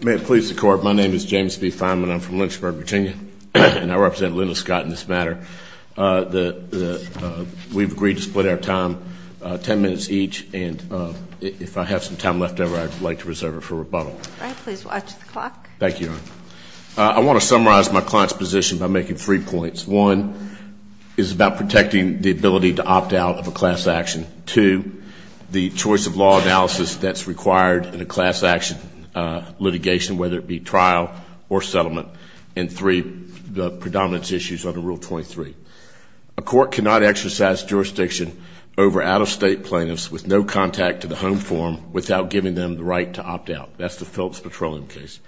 May it please the Court, my name is James B. Fineman. I'm from Lynchburg, Virginia, and I represent Linda Scott in this matter. We've agreed to split our time ten minutes each, and if I have some time left over, I'd like to reserve it for rebuttal. All right, please watch the clock. Thank you, Your Honor. I want to summarize my client's position by making three points. One is about protecting the ability to opt out of a class action. Two, the choice of law analysis that's required in a class action litigation, whether it be trial or settlement. And three, the predominance issues under Rule 23. A court cannot exercise jurisdiction over out-of-state plaintiffs with no contact to the home form without giving them the right to opt out. That's the Phillips Petroleum case.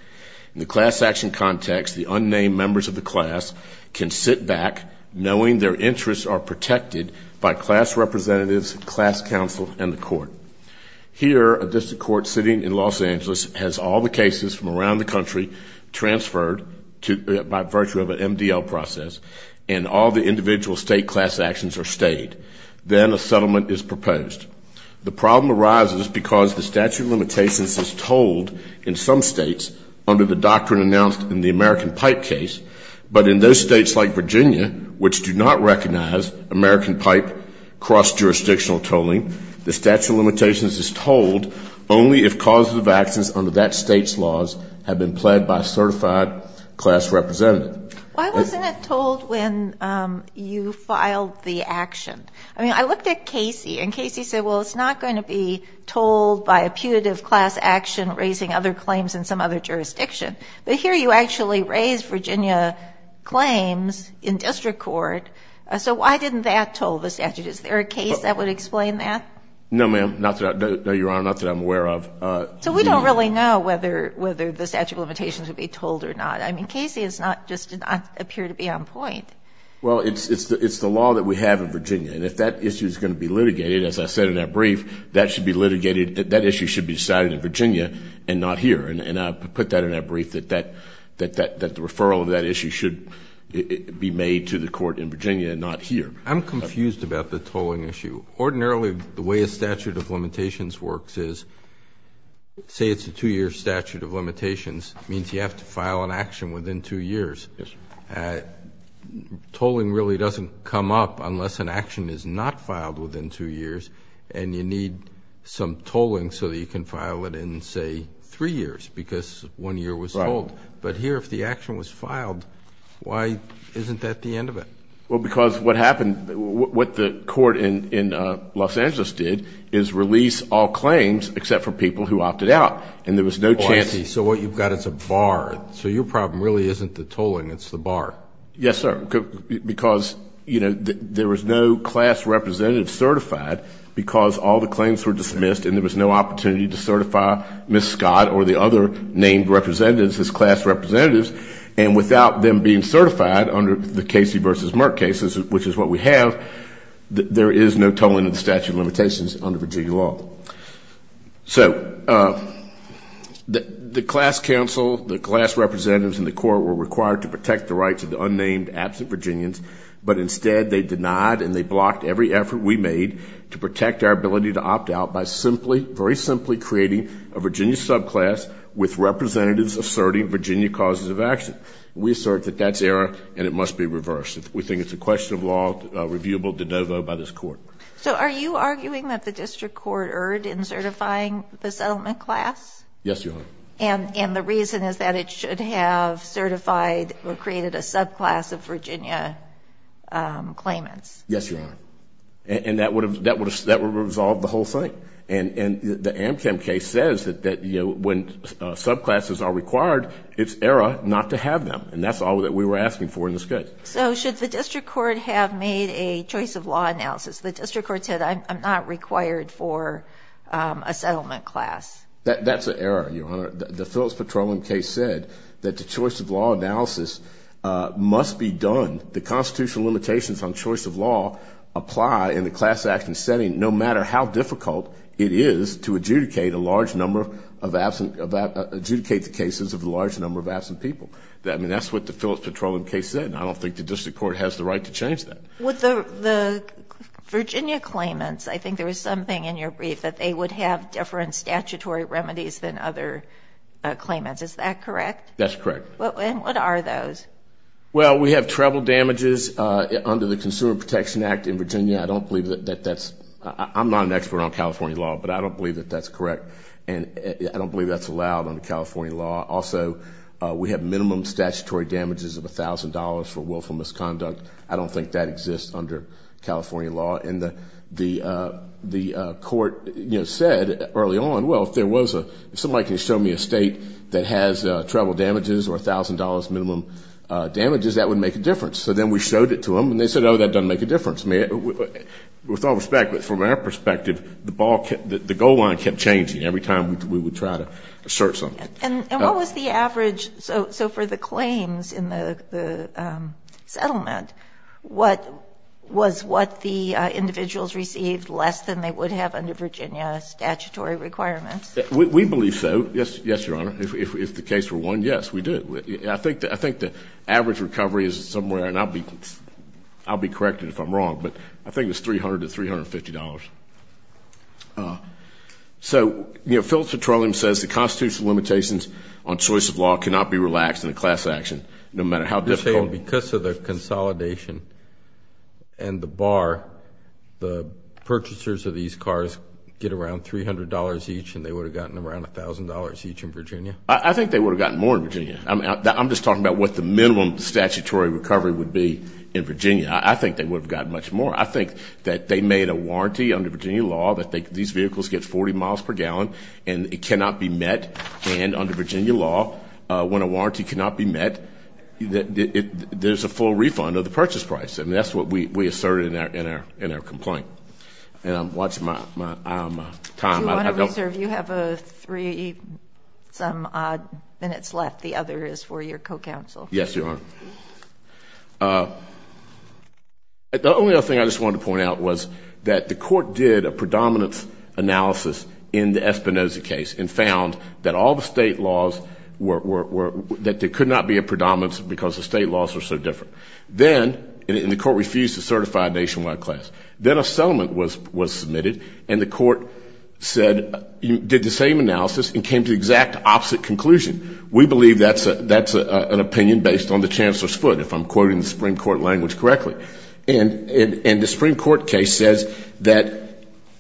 In the class action context, the unnamed members of the class can sit back knowing their interests are protected by class representatives, class counsel, and the court. Here, a district court sitting in Los Angeles has all the cases from around the country transferred by virtue of an MDL process, and all the individual state class actions are stayed. Then a settlement is proposed. The problem arises because the statute of limitations is told in some states under the doctrine announced in the American Pipe case, but in those states like Virginia, which do not recognize American Pipe cross-jurisdictional tolling, the statute of limitations is told only if causes of actions under that state's laws have been pled by a certified class representative. Why wasn't it told when you filed the action? I mean, I looked at Casey, and Casey said, well, it's not going to be told by a putative class action raising other claims in some other jurisdiction. But here you actually raise Virginia claims in district court, so why didn't that toll the statute? Is there a case that would explain that? No, ma'am. No, Your Honor, not that I'm aware of. So we don't really know whether the statute of limitations would be told or not. I mean, Casey just did not appear to be on point. Well, it's the law that we have in Virginia, and if that issue is going to be litigated, as I said in that brief, that should be litigated, that issue should be decided in Virginia and not here, and I put that in that brief that the referral of that issue should be made to the court in Virginia and not here. I'm confused about the tolling issue. Ordinarily, the way a statute of limitations works is, say it's a two-year statute of limitations, means you have to file an action within two years. Tolling really doesn't come up unless an action is not filed within two years, and you need some tolling so that you can file it in, say, three years because one year was told. But here if the action was filed, why isn't that the end of it? Well, because what happened, what the court in Los Angeles did is release all claims except for people who opted out, and there was no chance. Okay. So what you've got is a bar. So your problem really isn't the tolling, it's the bar. Yes, sir. Because, you know, there was no class representative certified because all the claims were dismissed and there was no opportunity to certify Ms. Scott or the other named representatives as class representatives, and without them being certified under the Casey v. Merck cases, which is what we have, there is no tolling of the statute of limitations under Virginia law. So the class council, the class representatives in the court were required to protect the rights of the unnamed, absent Virginians, but instead they denied and they blocked every effort we made to protect our ability to opt out by simply, very simply creating a Virginia subclass with representatives asserting Virginia causes of action. We assert that that's error and it must be reversed. We think it's a question of law reviewable de novo by this court. So are you arguing that the district court erred in certifying the settlement class? Yes, Your Honor. And the reason is that it should have certified or created a subclass of Virginia claimants? Yes, Your Honor. And that would have resolved the whole thing. And the Amchem case says that when subclasses are required, it's error not to have them, and that's all that we were asking for in this case. So should the district court have made a choice of law analysis? The district court said, I'm not required for a settlement class. That's an error, Your Honor. The Phillips Petroleum case said that the choice of law analysis must be done. The constitutional limitations on choice of law apply in the class action setting no matter how difficult it is to adjudicate the cases of a large number of absent people. I mean, that's what the Phillips Petroleum case said, and I don't think the district court has the right to change that. With the Virginia claimants, I think there was something in your brief that they would have different statutory remedies than other claimants. Is that correct? That's correct. And what are those? Well, we have treble damages under the Consumer Protection Act in Virginia. I don't believe that that's – I'm not an expert on California law, but I don't believe that that's correct, and I don't believe that's allowed under California law. Also, we have minimum statutory damages of $1,000 for willful misconduct. I don't think that exists under California law. And the court said early on, well, if there was a – if somebody can show me a state that has treble damages or $1,000 minimum damages, that would make a difference. So then we showed it to them, and they said, oh, that doesn't make a difference. With all respect, from our perspective, the goal line kept changing every time we would try to assert something. And what was the average – so for the claims in the settlement, was what the individuals received less than they would have under Virginia statutory requirements? We believe so, yes, Your Honor. If the case were won, yes, we did. I think the average recovery is somewhere – and I'll be corrected if I'm wrong, but I think it's $300 to $350. So, you know, Phil Petroleum says the constitutional limitations on choice of law cannot be relaxed in a class action, no matter how difficult – You're saying because of the consolidation and the bar, the purchasers of these cars get around $300 each and they would have gotten around $1,000 each in Virginia? I think they would have gotten more in Virginia. I'm just talking about what the minimum statutory recovery would be in Virginia. I think they would have gotten much more. I think that they made a warranty under Virginia law that these vehicles get 40 miles per gallon and it cannot be met. And under Virginia law, when a warranty cannot be met, there's a full refund of the purchase price. And that's what we asserted in our complaint. And I'm watching my time. Do you want to reserve? You have three-some-odd minutes left. The other is for your co-counsel. Yes, Your Honor. The only other thing I just wanted to point out was that the court did a predominance analysis in the Espinoza case and found that all the state laws were – that there could not be a predominance because the state laws were so different. Then – and the court refused to certify a nationwide class. Then a settlement was submitted and the court said – did the same analysis and came to the exact opposite conclusion. We believe that's an opinion based on the Chancellor's foot, if I'm quoting the Supreme Court language correctly. And the Supreme Court case says that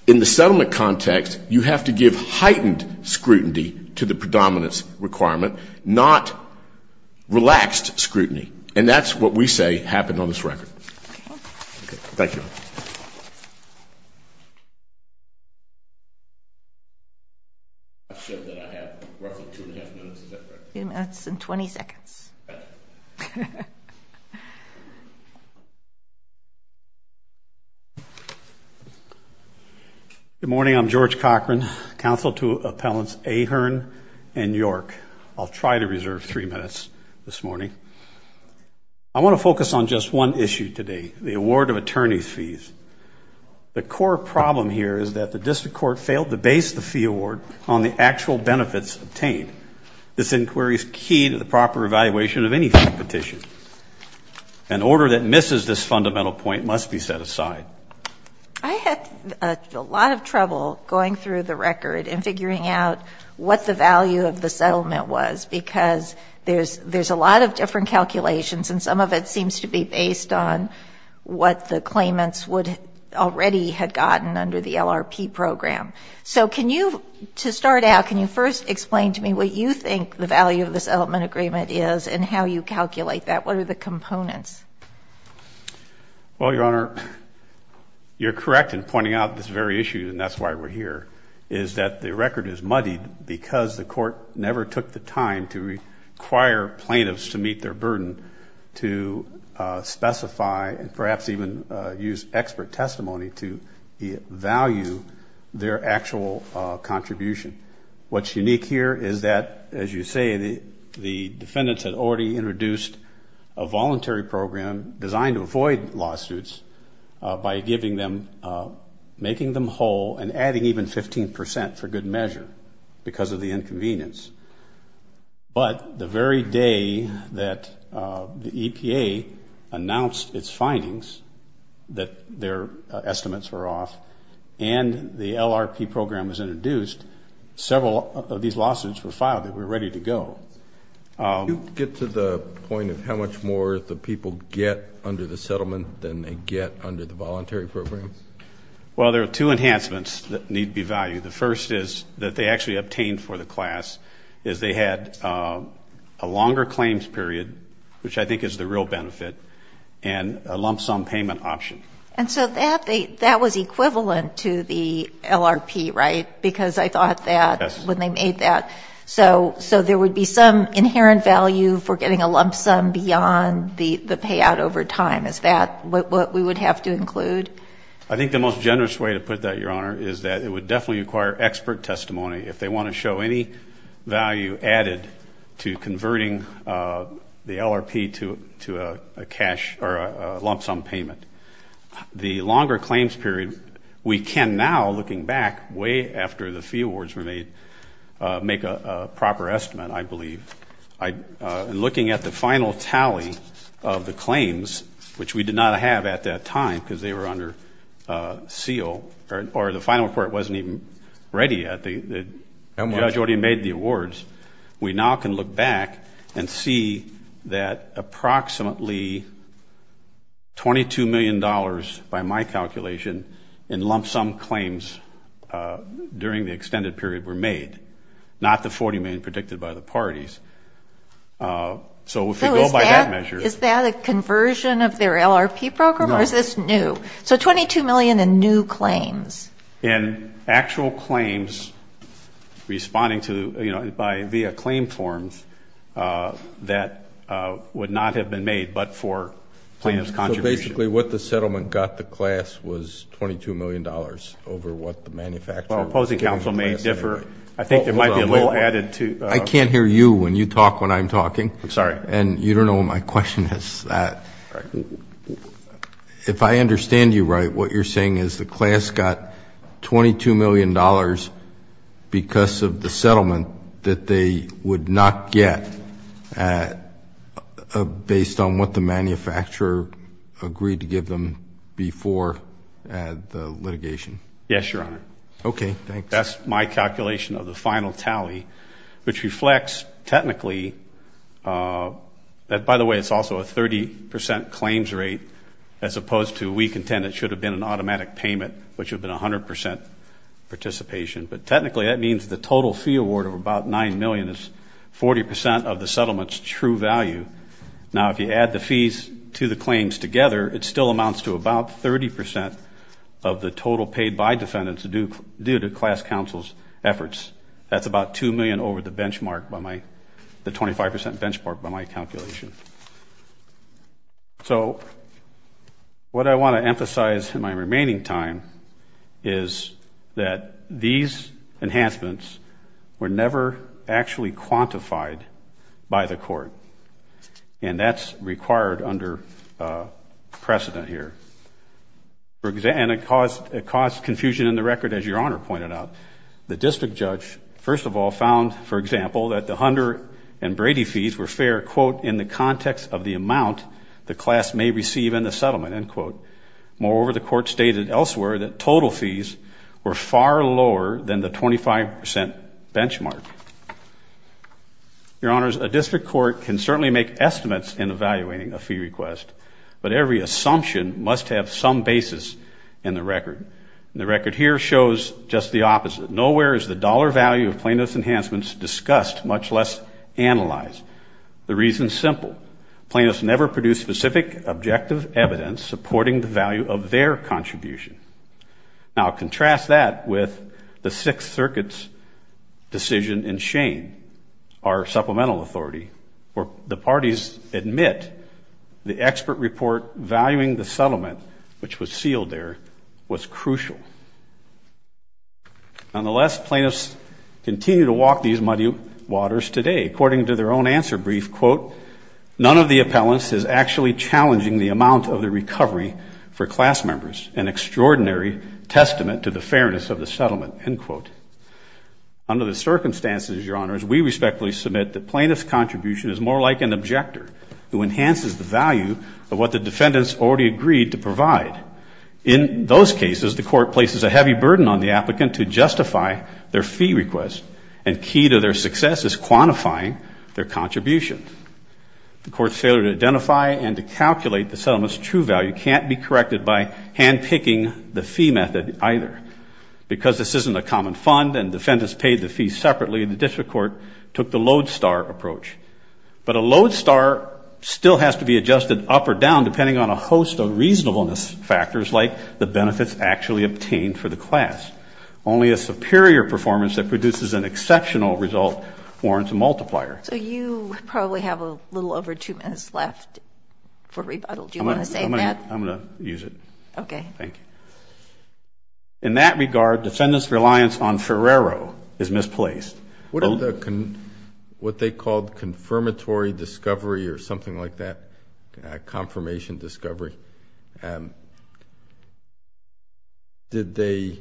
in the settlement context, you have to give heightened scrutiny to the predominance requirement, not relaxed scrutiny. And that's what we say happened on this record. Thank you. Thank you, Your Honor. I have roughly two and a half minutes, is that correct? Three minutes and 20 seconds. Good morning. I'm George Cochran, counsel to Appellants Ahearn and York. I'll try to reserve three minutes this morning. I want to focus on just one issue today, the award of attorney's fees. The core problem here is that the district court failed to base the fee award on the actual benefits obtained. This inquiry is key to the proper evaluation of any fee petition. An order that misses this fundamental point must be set aside. I had a lot of trouble going through the record and figuring out what the value of the settlement was because there's a lot of different calculations, and some of it seems to be based on what the claimants already had gotten under the LRP program. So can you, to start out, can you first explain to me what you think the value of the settlement agreement is and how you calculate that? What are the components? Well, Your Honor, you're correct in pointing out this very issue, and that's why we're here, is that the record is muddied because the court never took the time to require plaintiffs to meet their burden to specify and perhaps even use expert testimony to value their actual contribution. What's unique here is that, as you say, the defendants had already introduced a voluntary program designed to avoid lawsuits by giving them, making them whole, and adding even 15 percent for good measure because of the inconvenience. But the very day that the EPA announced its findings that their estimates were off and the LRP program was introduced, several of these lawsuits were filed and we were ready to go. Do you get to the point of how much more the people get under the settlement than they get under the voluntary program? Well, there are two enhancements that need to be valued. The first is that they actually obtained for the class is they had a longer claims period, which I think is the real benefit, and a lump sum payment option. And so that was equivalent to the LRP, right, because I thought that when they made that, so there would be some inherent value for getting a lump sum beyond the payout over time. Is that what we would have to include? I think the most generous way to put that, Your Honor, is that it would definitely require expert testimony. If they want to show any value added to converting the LRP to a lump sum payment, the longer claims period, we can now, looking back, way after the fee awards were made, make a proper estimate, I believe. Looking at the final tally of the claims, which we did not have at that time because they were under seal, or the final report wasn't even ready yet, the judge already made the awards, we now can look back and see that approximately $22 million, by my calculation, in lump sum claims during the extended period were made, not the $40 million predicted by the parties. So if you go by that measure. Is that a conversion of their LRP program, or is this new? So $22 million in new claims. And actual claims responding to, you know, via claim forms that would not have been made but for plaintiff's contribution. So basically what the settlement got the class was $22 million over what the manufacturer. Well, opposing counsel may differ. I think there might be a little added to. I can't hear you when you talk when I'm talking. I'm sorry. And you don't know what my question is. If I understand you right, what you're saying is the class got $22 million because of the settlement that they would not get, based on what the manufacturer agreed to give them before the litigation. Yes, Your Honor. Okay. Thanks. That's my calculation of the final tally, which reflects technically that, by the way, it's also a 30% claims rate as opposed to we contend it should have been an automatic payment, which would have been 100% participation. But technically that means the total fee award of about $9 million is 40% of the settlement's true value. Now, if you add the fees to the claims together, it still amounts to about 30% of the total paid by defendants due to class counsel's efforts. That's about $2 million over the benchmark, the 25% benchmark by my calculation. So what I want to emphasize in my remaining time is that these enhancements were never actually quantified by the court, and that's required under precedent here. And it caused confusion in the record, as Your Honor pointed out. The district judge, first of all, found, for example, that the Hunter and Brady fees were fair, quote, in the context of the amount the class may receive in the settlement, end quote. Moreover, the court stated elsewhere that total fees were far lower than the 25% benchmark. Your Honors, a district court can certainly make estimates in evaluating a fee request, but every assumption must have some basis in the record. And the record here shows just the opposite. Nowhere is the dollar value of plaintiff's enhancements discussed, much less analyzed. The reason is simple. Plaintiffs never produce specific objective evidence supporting the value of their contribution. Now, contrast that with the Sixth Circuit's decision in Shane, our supplemental authority, where the parties admit the expert report valuing the settlement, which was sealed there, was crucial. Nonetheless, plaintiffs continue to walk these muddy waters today. According to their own answer brief, quote, none of the appellants is actually challenging the amount of the recovery for class members, an extraordinary testament to the fairness of the settlement, end quote. Under the circumstances, Your Honors, we respectfully submit that plaintiff's contribution is more like an objector who enhances the value of what the defendants already agreed to provide. In those cases, the court places a heavy burden on the applicant to justify their fee request, and key to their success is quantifying their contribution. The court's failure to identify and to calculate the settlement's true value can't be corrected by handpicking the fee method either. Because this isn't a common fund and defendants paid the fee separately, the district court took the lodestar approach. But a lodestar still has to be adjusted up or down depending on a host of reasonableness factors, like the benefits actually obtained for the class. Only a superior performance that produces an exceptional result warrants a multiplier. So you probably have a little over two minutes left for rebuttal. Do you want to say that? I'm going to use it. Okay. Thank you. In that regard, defendants' reliance on Ferrero is misplaced. What they called confirmatory discovery or something like that, confirmation discovery, did they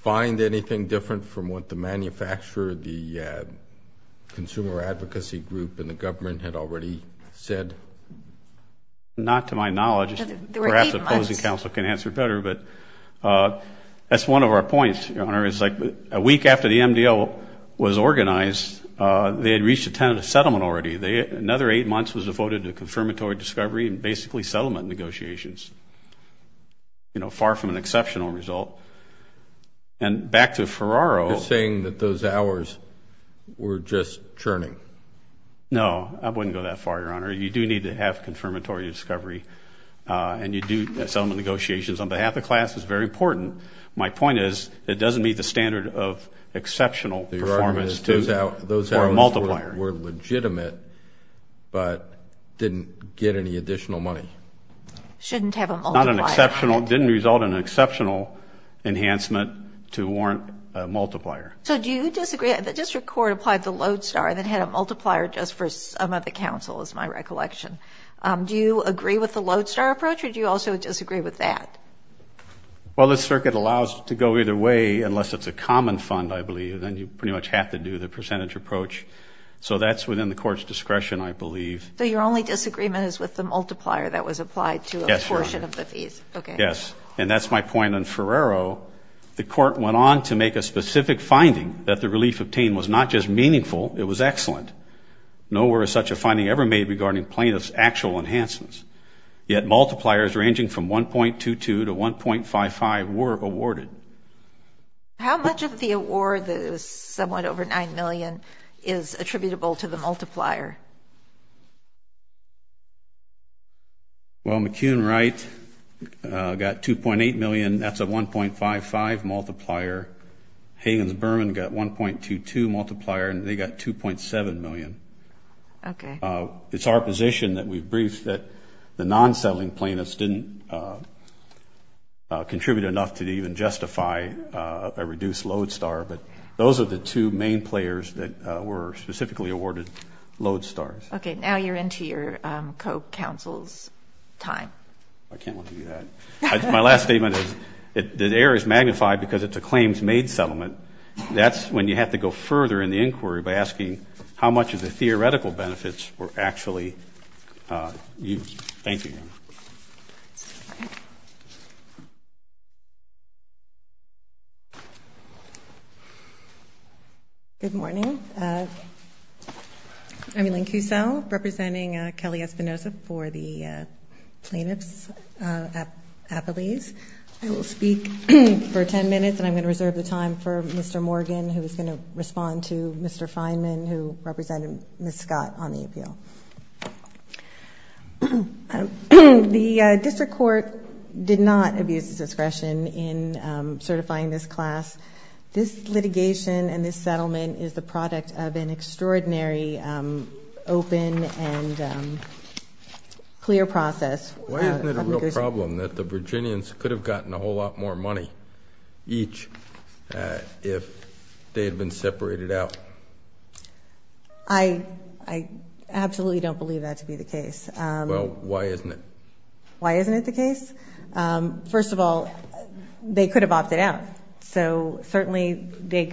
find anything different from what the manufacturer, the consumer advocacy group, and the government had already said? Not to my knowledge. There were eight months. Perhaps the opposing counsel can answer better, but that's one of our points, Your Honor. It's like a week after the MDL was organized, they had reached a tentative settlement already. Another eight months was devoted to confirmatory discovery and basically settlement negotiations, you know, far from an exceptional result. And back to Ferrero. You're saying that those hours were just churning. No, I wouldn't go that far, Your Honor. You do need to have confirmatory discovery, and you do. Settlement negotiations on behalf of the class is very important. My point is it doesn't meet the standard of exceptional performance for a multiplier. Those hours were legitimate but didn't get any additional money. Shouldn't have a multiplier. Didn't result in an exceptional enhancement to warrant a multiplier. So do you disagree that the district court applied the Lodestar that had a multiplier just for some of the counsel, is my recollection. Do you agree with the Lodestar approach, or do you also disagree with that? Well, the circuit allows it to go either way unless it's a common fund, I believe. Then you pretty much have to do the percentage approach. So that's within the court's discretion, I believe. So your only disagreement is with the multiplier that was applied to a portion of the fees? Yes, Your Honor. Yes, and that's my point. On Ferrero, the court went on to make a specific finding that the relief obtained was not just meaningful, it was excellent. Nowhere is such a finding ever made regarding plaintiff's actual enhancements. Yet multipliers ranging from 1.22 to 1.55 were awarded. How much of the award that is somewhat over $9 million is attributable to the multiplier? Well, McEwen-Wright got $2.8 million, that's a 1.55 multiplier. Higgins-Berman got 1.22 multiplier, and they got $2.7 million. Okay. It's our position that we've briefed that the non-settling plaintiffs didn't contribute enough to even justify a reduced load star, but those are the two main players that were specifically awarded load stars. Okay. Now you're into your co-counsel's time. I can't let you do that. My last statement is that the error is magnified because it's a claims-made settlement. That's when you have to go further in the inquiry by asking how much of the theoretical benefits were actually used. Thank you, Your Honor. Good morning. I'm Elaine Cusel, representing Kelly Espinoza for the plaintiffs' affilies. I will speak for 10 minutes, and I'm going to reserve the time for Mr. Morgan, who is going to respond to Mr. Fineman, who represented Ms. Scott on the appeal. The district court did not abuse its discretion in certifying this class. This litigation and this settlement is the product of an extraordinary open and clear process. Why isn't it a real problem that the Virginians could have gotten a whole lot more money each if they had been separated out? I absolutely don't believe that to be the case. Well, why isn't it? Why isn't it the case? First of all, they could have opted out. So certainly, there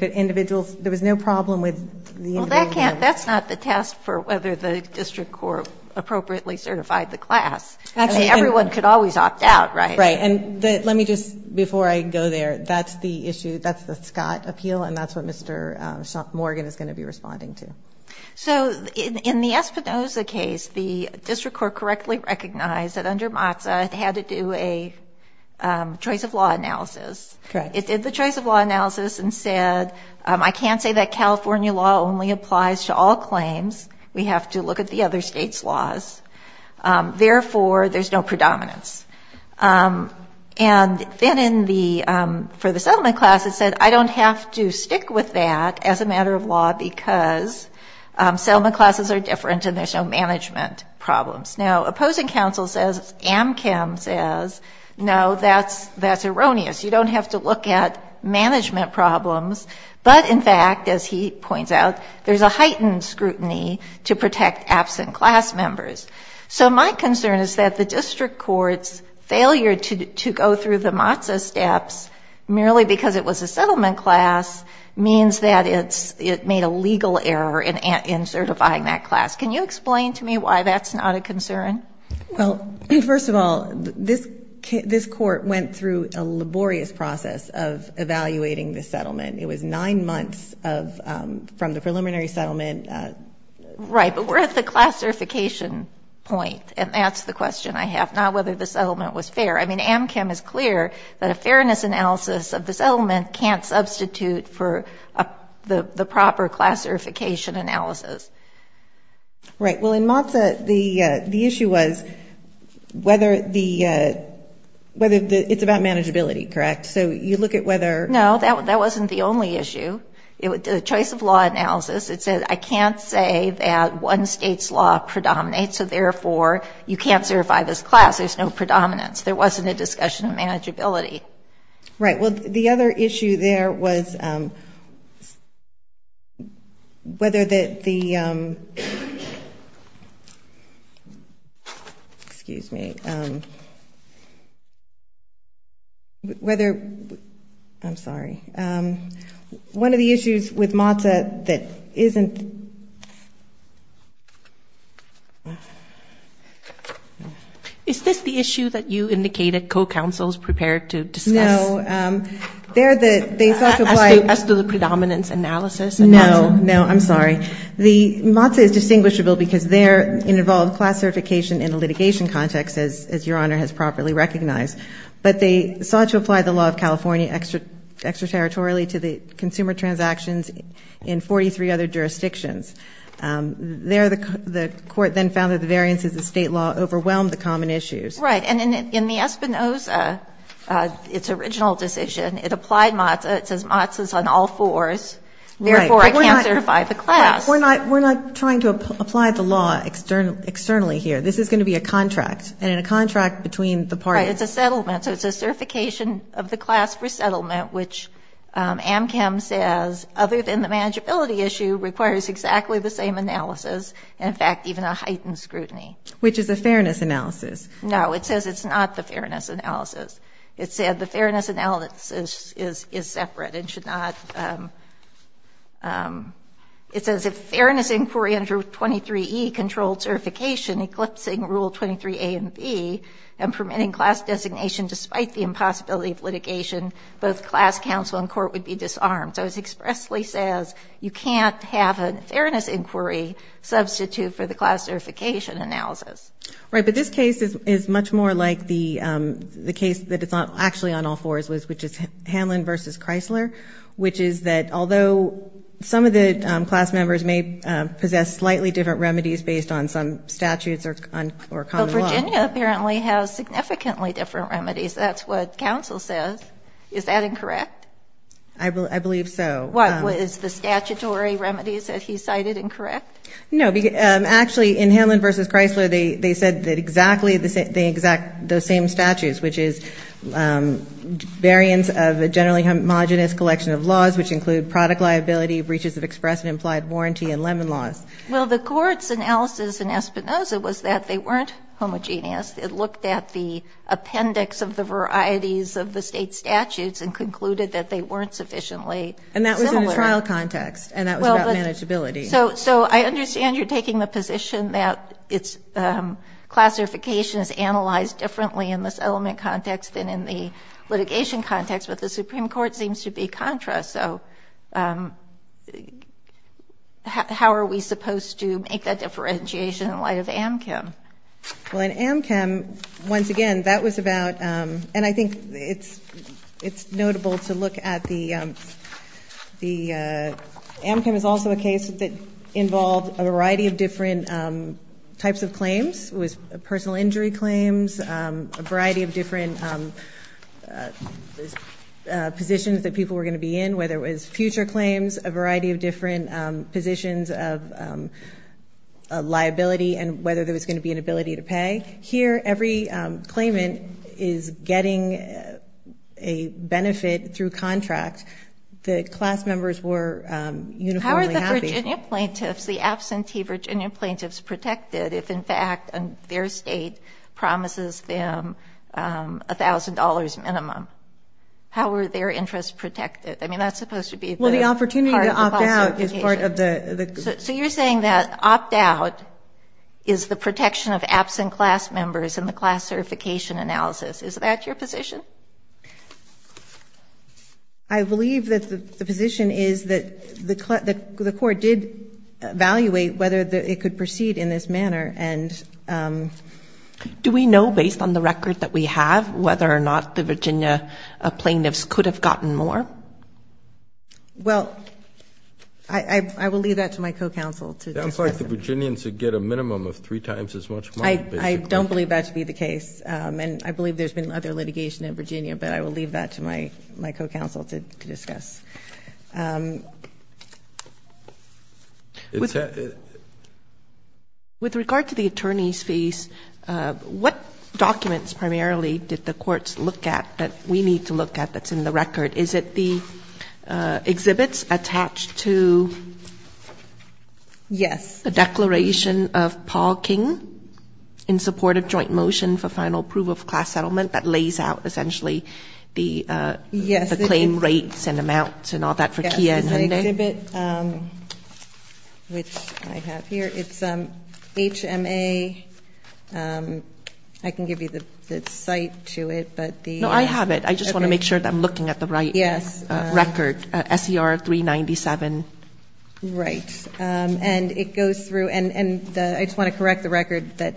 was no problem with the individuals. That's not the test for whether the district court appropriately certified the class. I mean, everyone could always opt out, right? Right. And let me just, before I go there, that's the issue, that's the Scott appeal, and that's what Mr. Morgan is going to be responding to. So in the Espinoza case, the district court correctly recognized that under MOTSA, it had to do a choice of law analysis. Correct. It did the choice of law analysis and said, I can't say that California law only applies to all claims. We have to look at the other states' laws. Therefore, there's no predominance. And then for the settlement class, it said, I don't have to stick with that as a matter of law because settlement classes are different and there's no management problems. Now, opposing counsel says, Amchem says, no, that's erroneous. You don't have to look at management problems. But, in fact, as he points out, there's a heightened scrutiny to protect absent class members. So my concern is that the district court's failure to go through the MOTSA steps, merely because it was a settlement class, means that it made a legal error in certifying that class. Can you explain to me why that's not a concern? Well, first of all, this court went through a laborious process of evaluating the settlement. It was nine months from the preliminary settlement. Right, but we're at the classification point, and that's the question I have, not whether the settlement was fair. I mean, Amchem is clear that a fairness analysis of the settlement can't substitute for the proper classification analysis. Right. Well, in MOTSA, the issue was whether the ‑‑ it's about manageability, correct? So you look at whether ‑‑ No, that wasn't the only issue. The choice of law analysis, it said I can't say that one state's law predominates, so therefore you can't certify this class. There's no predominance. There wasn't a discussion of manageability. Right, well, the other issue there was whether the ‑‑ excuse me. Whether ‑‑ I'm sorry. One of the issues with MOTSA that isn't ‑‑ Is this the issue that you indicated co‑counsels prepared to discuss? No. They sought to apply ‑‑ As to the predominance analysis? No, no, I'm sorry. MOTSA is distinguishable because there it involved class certification in a litigation context, as Your Honor has properly recognized. But they sought to apply the law of California extraterritorially to the consumer transactions in 43 other jurisdictions. There the court then found that the variances of state law overwhelmed the common issues. Right, and in the Espinoza, its original decision, it applied MOTSA. It says MOTSA's on all fours. Therefore, I can't certify the class. We're not trying to apply the law externally here. This is going to be a contract, and in a contract between the parties. Right, it's a settlement, so it's a certification of the class for settlement, which AMCAM says, other than the manageability issue, requires exactly the same analysis, in fact, even a heightened scrutiny. Which is a fairness analysis. No, it says it's not the fairness analysis. It said the fairness analysis is separate and should not ‑‑ It says if fairness inquiry under 23E controlled certification eclipsing Rule 23A and B and permitting class designation despite the impossibility of litigation, both class counsel and court would be disarmed. So it expressly says you can't have a fairness inquiry substitute for the class certification analysis. Right, but this case is much more like the case that it's actually on all fours, which is Hanlon v. Chrysler, which is that although some of the class members may possess slightly different remedies based on some statutes or common law. Well, Virginia apparently has significantly different remedies. That's what counsel says. Is that incorrect? I believe so. What, is the statutory remedies that he cited incorrect? No, actually, in Hanlon v. Chrysler, they said exactly the same statutes, which is variance of a generally homogenous collection of laws, which include product liability, breaches of express and implied warranty, and lemon laws. Well, the court's analysis in Espinoza was that they weren't homogeneous. It looked at the appendix of the varieties of the state statutes and concluded that they weren't sufficiently similar. And that was in a trial context, and that was about manageability. So I understand you're taking the position that classification is analyzed differently in this element context than in the litigation context, but the Supreme Court seems to be contra, so how are we supposed to make that differentiation in light of AMCM? Well, in AMCM, once again, that was about, and I think it's notable to look at the, AMCM is also a case that involved a variety of different types of claims, personal injury claims, a variety of different positions that people were going to be in, whether it was future claims, a variety of different positions of liability and whether there was going to be an ability to pay. Here, every claimant is getting a benefit through contract. The class members were uniformly happy. How are the Virginia plaintiffs, the absentee Virginia plaintiffs protected if, in fact, their state promises them $1,000 minimum? How are their interests protected? I mean, that's supposed to be part of the classification. Well, the opportunity to opt out is part of the. So you're saying that opt out is the protection of absent class members in the class certification analysis. Is that your position? I believe that the position is that the court did evaluate whether it could proceed in this manner. Do we know, based on the record that we have, whether or not the Virginia plaintiffs could have gotten more? Well, I will leave that to my co-counsel. It sounds like the Virginians would get a minimum of three times as much. I don't believe that to be the case. And I believe there's been other litigation in Virginia, but I will leave that to my co-counsel to discuss. With regard to the attorney's fees, what documents primarily did the courts look at that we need to look at that's in the record? Is it the exhibits attached to a declaration of Paul King in support of joint motion for final proof of class settlement that lays out essentially the claim rates and amounts and all that for Kia and Hyundai? Yes, it's an exhibit, which I have here. It's HMA. I can give you the site to it, but the. No, I have it. I just want to make sure that I'm looking at the right record. SCR 397. Right. And it goes through and I just want to correct the record that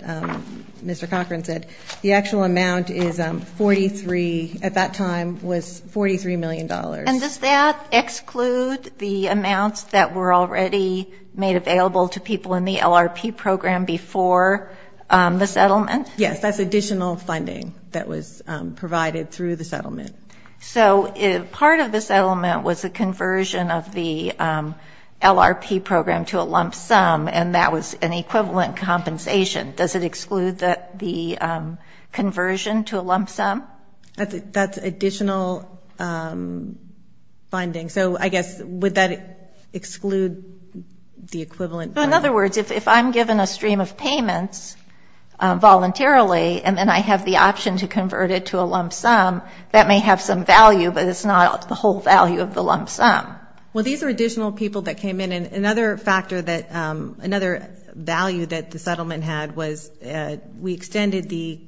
Mr. Cochran said. The actual amount is 43 at that time was $43 million. And does that exclude the amounts that were already made available to people in the LRP program before the settlement? Yes. That's additional funding that was provided through the settlement. So if part of the settlement was a conversion of the LRP program to a lump sum and that was an equivalent compensation, does it exclude that the conversion to a lump sum? That's additional funding. So I guess would that exclude the equivalent? In other words, if I'm given a stream of payments voluntarily and then I have the option to convert it to a lump sum, that may have some value, but it's not the whole value of the lump sum. Well, these are additional people that came in. And another factor that another value that the settlement had was we extended the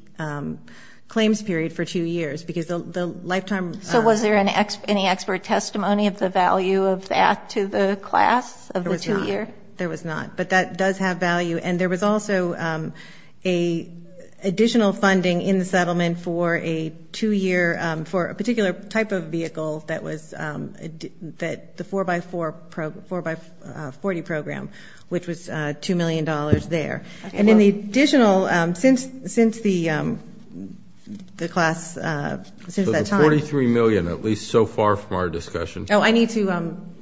claims period for two years because the lifetime. So was there any expert testimony of the value of that to the class of the two years or not, but that does have value. And there was also a additional funding in the settlement for a two year, for a particular type of vehicle that was that the four by four pro four by 40 program, which was a $2 million there. And in the additional since, since the the class since that time, 43 million, at least so far from our discussion. Oh, I need to, I'm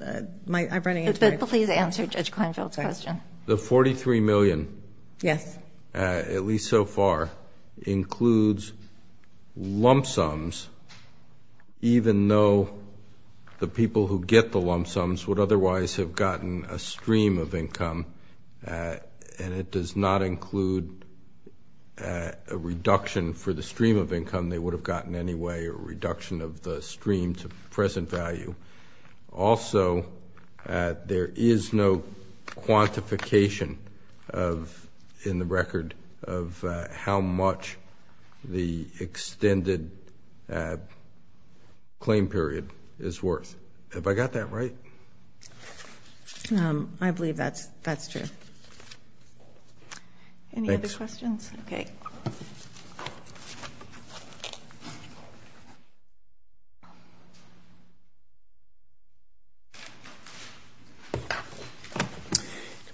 running out of time. Please answer Judge Kleinfeld's question. The 43 million. Yes. At least so far includes lump sums, even though the people who get the lump sums would otherwise have gotten a stream of income. And it does not include a reduction for the stream of income they would have gotten anyway, or reduction of the stream to present value. Also, there is no quantification of in the record of how much the extended claim period is worth. Have I got that right? I believe that's, that's true. Any other questions? Okay.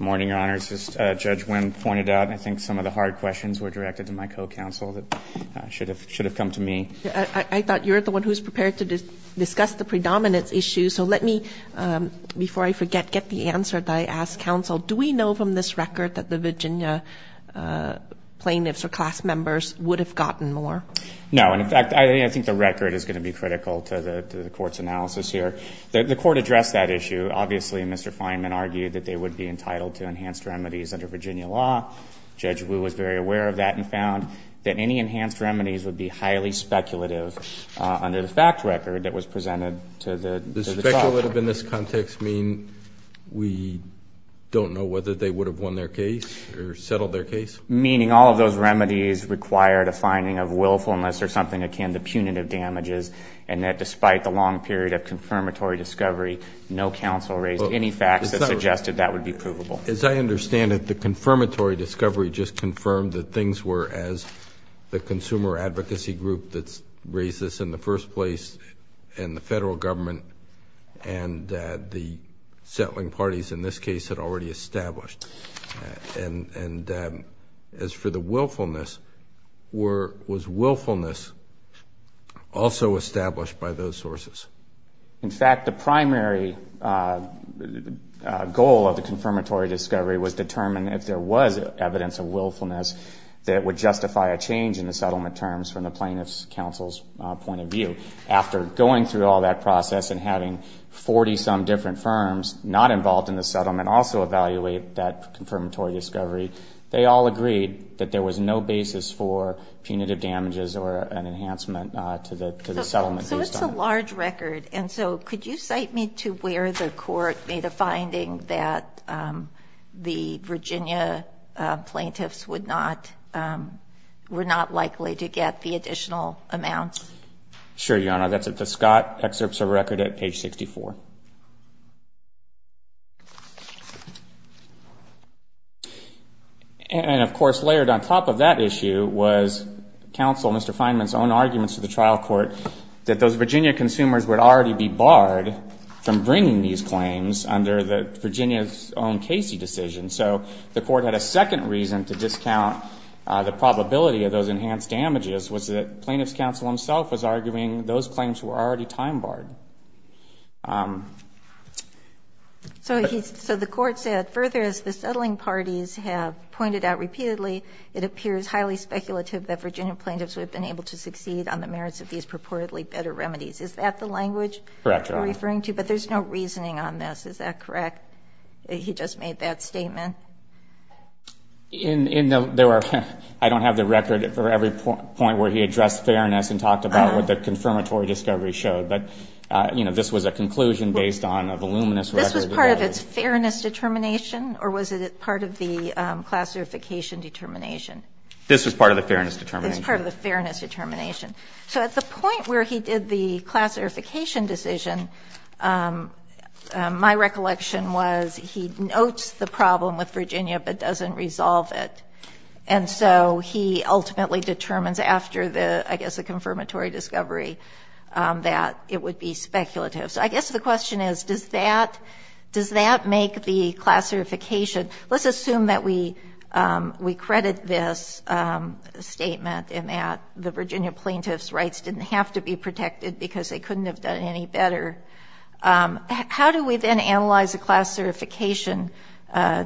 Good morning, Your Honor. It's just a judge when pointed out, I think some of the hard questions were directed to my co-counsel that should have, should have come to me. I thought you're the one who's prepared to discuss the predominance issue. So let me, before I forget, get the answer that I asked counsel, do we know from this record that the Virginia plaintiffs or class members And in fact, I don't know that the Virginia plaintiffs or class members would have I think the record is going to be critical to the, to the court's analysis here that the court addressed that issue. Obviously Mr. Fineman argued that they would be entitled to enhanced remedies under Virginia law. Judge Wu was very aware of that and found that any enhanced remedies would be highly speculative under the fact record that was presented to the speculative in this context. I mean, we don't know whether they would have won their case or settled their case, meaning all of those remedies required a finding of willfulness or something akin to punitive damages. And that despite the long period of confirmatory discovery, no counsel raised any facts that suggested that would be provable. As I understand it, the confirmatory discovery just confirmed that things were as the consumer advocacy group that's raised this in the first place and the federal government and the settling parties in this case had already established. And, and as for the willfulness were, was willfulness also established by those sources? In fact, the primary goal of the confirmatory discovery was determined if there was evidence of willfulness that would justify a change in the settlement terms from the plaintiff's counsel's point of view. After going through all that process and having 40 some different firms not involved in the settlement, also evaluate that confirmatory discovery, they all agreed that there was no basis for punitive damages or an enhancement to the settlement. So it's a large record. And so could you cite me to where the court made a finding that the Virginia plaintiffs would not, were not likely to get the additional amounts? Sure. Your Honor, that's at the Scott excerpts of record at page 64. And of course, layered on top of that issue was counsel, Mr. Fineman's own arguments to the trial court that those Virginia consumers would already be barred from bringing these claims under the Virginia's own Casey decision. So the court had a second reason to discount the probability of those enhanced damages was that plaintiff's counsel himself was arguing those claims were already time barred. So he, so the court said further as the settling parties have pointed out repeatedly, it appears highly speculative that Virginia plaintiffs would have been able to succeed on the merits of these purportedly better remedies. Is that the language you're referring to? But there's no reasoning on this. Is that correct? He just made that statement. In there were, I don't have the record for every point where he addressed fairness and talked about what the confirmatory discovery showed, but you know, this was a conclusion based on a voluminous record. This was part of its fairness determination, or was it part of the classification determination? This was part of the fairness determination. It's part of the fairness determination. So at the point where he did the classification decision, my recollection was he notes the problem with Virginia, but doesn't resolve it. And so he ultimately determines after the, I guess the confirmatory discovery that it would be speculative. So I guess the question is, does that, does that make the classification let's assume that we, we credit this statement in that the Virginia plaintiffs rights didn't have to be protected because they couldn't have done any better. How do we then analyze a classification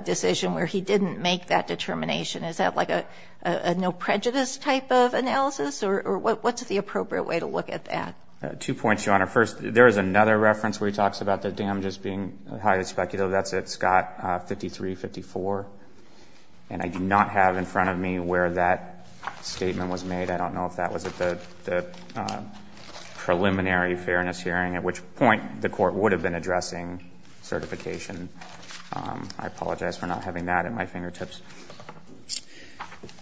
decision where he didn't make that determination? Is that like a, a, a no prejudice type of analysis or what's the appropriate way to look at that? Two points, Your Honor. First there is another reference where he talks about the damages being highly speculative. That's at Scott 5354 and I do not have in front of me where that statement was made. I don't know if that was at the preliminary fairness hearing at which point the court would have been addressing certification. I apologize for not having that at my fingertips.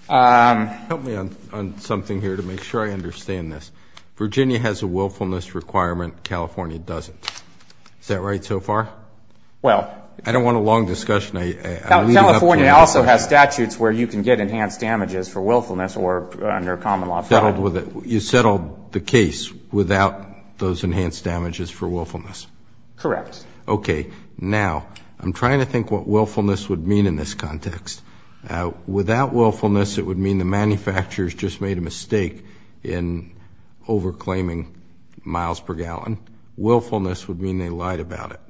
Help me on something here to make sure I understand this. Virginia has a willfulness requirement. California doesn't. Is that right so far? Well, I don't want a long discussion. California also has statutes where you can get enhanced damages for willfulness or under common law. Settled with it. You settled the case without those enhanced damages for willfulness. Correct. Okay. Now I'm trying to think what willfulness would mean in this context. Without willfulness it would mean the manufacturers just made a mistake in over claiming miles per gallon. Willfulness would mean they lied about it.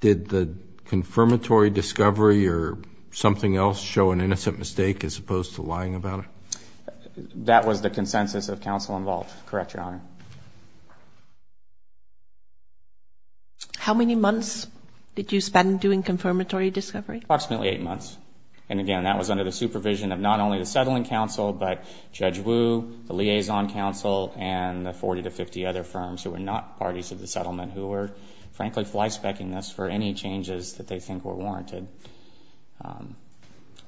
Did the confirmatory discovery or something else show an innocent mistake as opposed to lying about it? That was the consensus of counsel involved. Correct, Your Honor. How many months did you spend doing confirmatory discovery? Approximately eight months. And again, that was under the supervision of not only the settling counsel but Judge Wu, the liaison counsel and the 40 to 50 other firms who were not parties to the settlement who were frankly fly specking this for any changes that they think were warranted.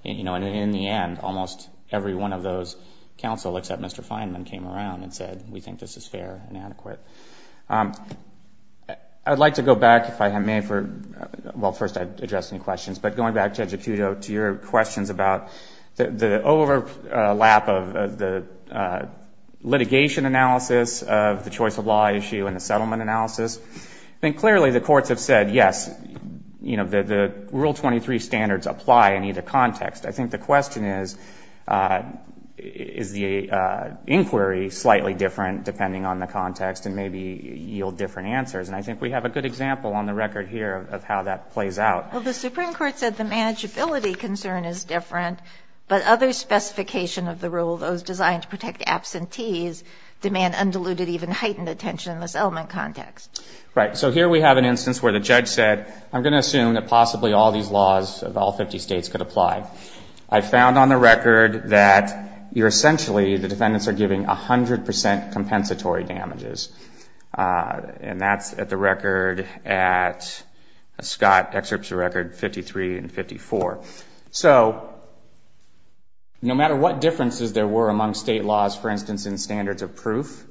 You know, and in the end almost every one of those counsel except Mr. Fair and adequate. I'd like to go back if I may for, well, first I address any questions, but going back to judge Acuto to your questions about the overlap of the litigation analysis of the choice of law issue and the settlement analysis, I think clearly the courts have said, yes, you know, the rule 23 standards apply in either context. I think the question is, is the inquiry slightly different depending on the context and maybe yield different answers. And I think we have a good example on the record here of how that plays out. Well, the Supreme Court said the manageability concern is different, but other specification of the rule, those designed to protect absentees demand undiluted, even heightened attention in this element context. Right. So here we have an instance where the judge said, I'm going to assume that possibly all these laws of all 50 States could apply. I found on the record that you're essentially, the defendants are giving a hundred percent compensatory damages. And that's at the record at Scott excerpts record 53 and 54. So no matter what differences there were among state laws, for instance, in standards of proof,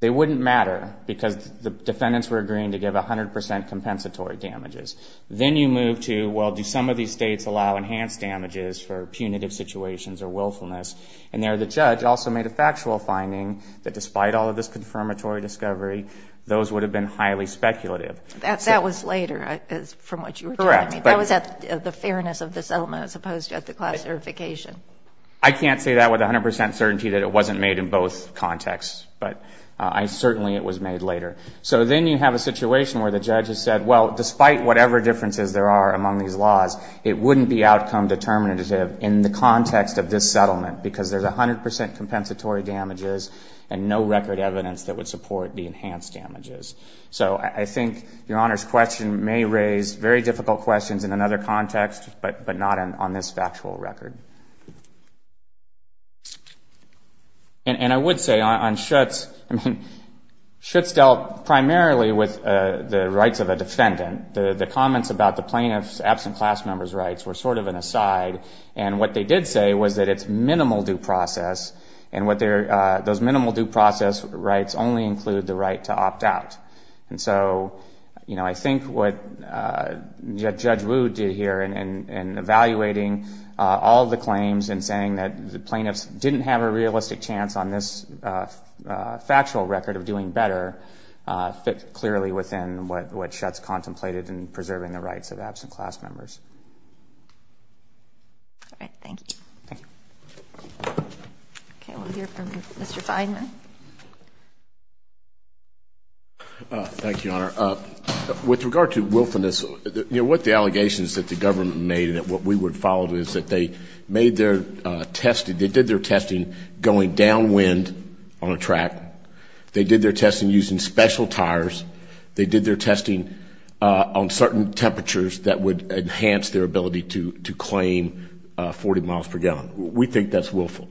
they wouldn't matter because the defendants were agreeing to give a hundred percent compensatory damages. Then you move to, well, do some of these States allow enhanced damages for punitive situations or willfulness? And there, the judge also made a factual finding that despite all of this confirmatory discovery, those would have been highly speculative. That was later from what you were correct. That was at the fairness of the settlement as opposed to at the class certification. I can't say that with a hundred percent certainty that it wasn't made in both contexts, but I certainly, it was made later. So then you have a situation where the judge has said, well, despite whatever differences there are among these laws, it wouldn't be outcome determinative in the context of this settlement because there's a hundred percent compensatory damages and no record evidence that would support the enhanced damages. So I think Your Honor's question may raise very difficult questions in another context, but not on this factual record. And I would say on Schutz, I mean, the rights of a defendant, the comments about the plaintiff's absent class member's rights were sort of an aside. And what they did say was that it's minimal due process and what their, those minimal due process rights only include the right to opt out. And so, you know, I think what Judge Wu did here and, and evaluating all the claims and saying that the plaintiffs didn't have a realistic chance on this factual record of doing better, fit clearly within what Schutz contemplated in preserving the rights of absent class members. All right. Thank you. Thank you. Okay. We'll hear from Mr. Feidman. Thank you, Your Honor. With regard to wilfulness, you know, what the allegations that the government made and that what we would follow is that they made their testing, they did their testing going downwind on a track. They did their testing using special tires. They did their testing on certain temperatures that would enhance their ability to claim 40 miles per gallon. We think that's willful.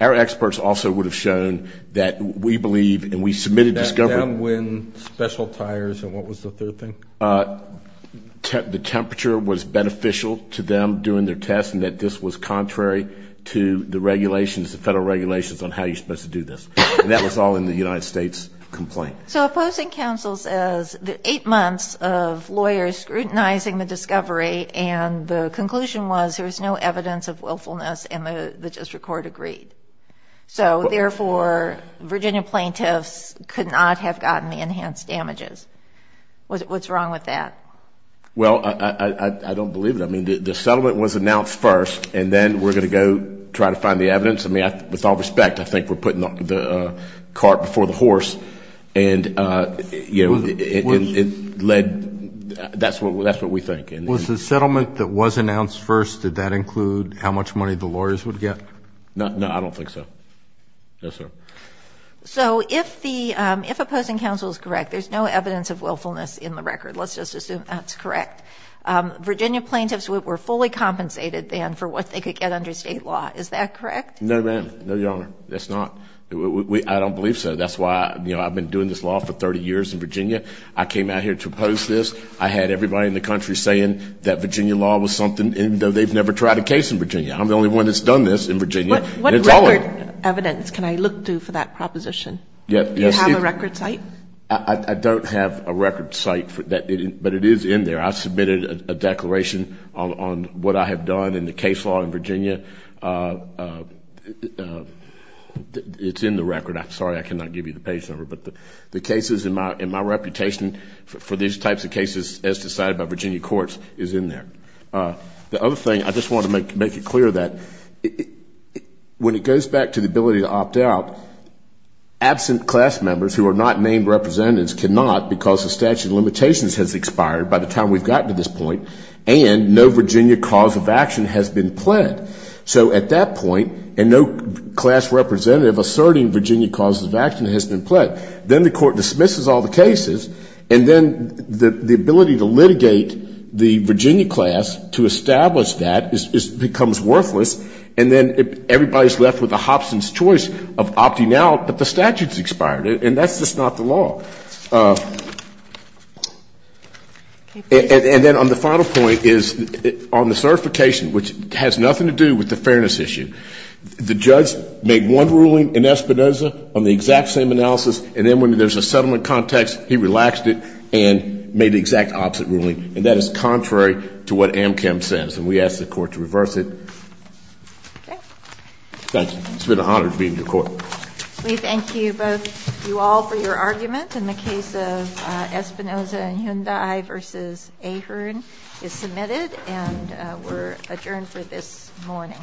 Our experts also would have shown that we believe, and we submitted discovery. Downwind, special tires, and what was the third thing? The temperature was beneficial to them doing their tests and that this was contrary to the regulations, the federal regulations on how you're supposed to do this. And that was all in the United States complaint. So opposing counsel says eight months of lawyers scrutinizing the discovery and the conclusion was there was no evidence of willfulness and the district court agreed. So, therefore, Virginia plaintiffs could not have gotten the enhanced damages. What's wrong with that? Well, I don't believe it. I mean, the settlement was announced first and then we're going to go try to find the evidence. I mean, with all respect, I think we're putting the cart before the horse and, you know, it led, that's what we think. Was the settlement that was announced first, did that include how much money the lawyers would get? No, I don't think so. No, sir. So if the, if opposing counsel is correct, there's no evidence of willfulness in the record. Let's just assume that's correct. Virginia plaintiffs were fully compensated then for what they could get under state law. Is that correct? No, ma'am. No, Your Honor. That's not, I don't believe so. That's why, you know, I've been doing this law for 30 years in Virginia. I came out here to oppose this. I had everybody in the country saying that Virginia law was something, even though they've never tried a case in Virginia. I'm the only one that's done this in Virginia. What record evidence can I look to for that proposition? Do you have a record site? I don't have a record site, but it is in there. I submitted a declaration on what I have done in the case law in Virginia. It's in the record. I'm sorry I cannot give you the page number, but the cases in my reputation for these types of cases as decided by Virginia courts is in there. The other thing, I just want to make it clear that when it goes back to the ability to opt out, absent class members who are not named representatives cannot because the statute of limitations has expired by the time we've gotten to this point, and no Virginia cause of action has been pled. So at that point, and no class representative asserting Virginia cause of action has been pled, then the court dismisses all the cases, and then the ability to litigate the Virginia class to establish that becomes worthless, and then everybody's left with a Hobson's choice of opting out, but the statute's expired, and that's just not the law. And then on the final point is on the certification, which has nothing to do with the fairness issue, the judge made one ruling in Espinoza on the exact same analysis, and then when there's a settlement context, he relaxed it and made the exact opposite ruling, and that is contrary to what Amchem says, and we ask the court to reverse it. Thank you. It's been an honor to be in your court. We thank you both, you all for your argument in the case of Espinoza and Hyundai versus Ahern is submitted and we're adjourned for this morning.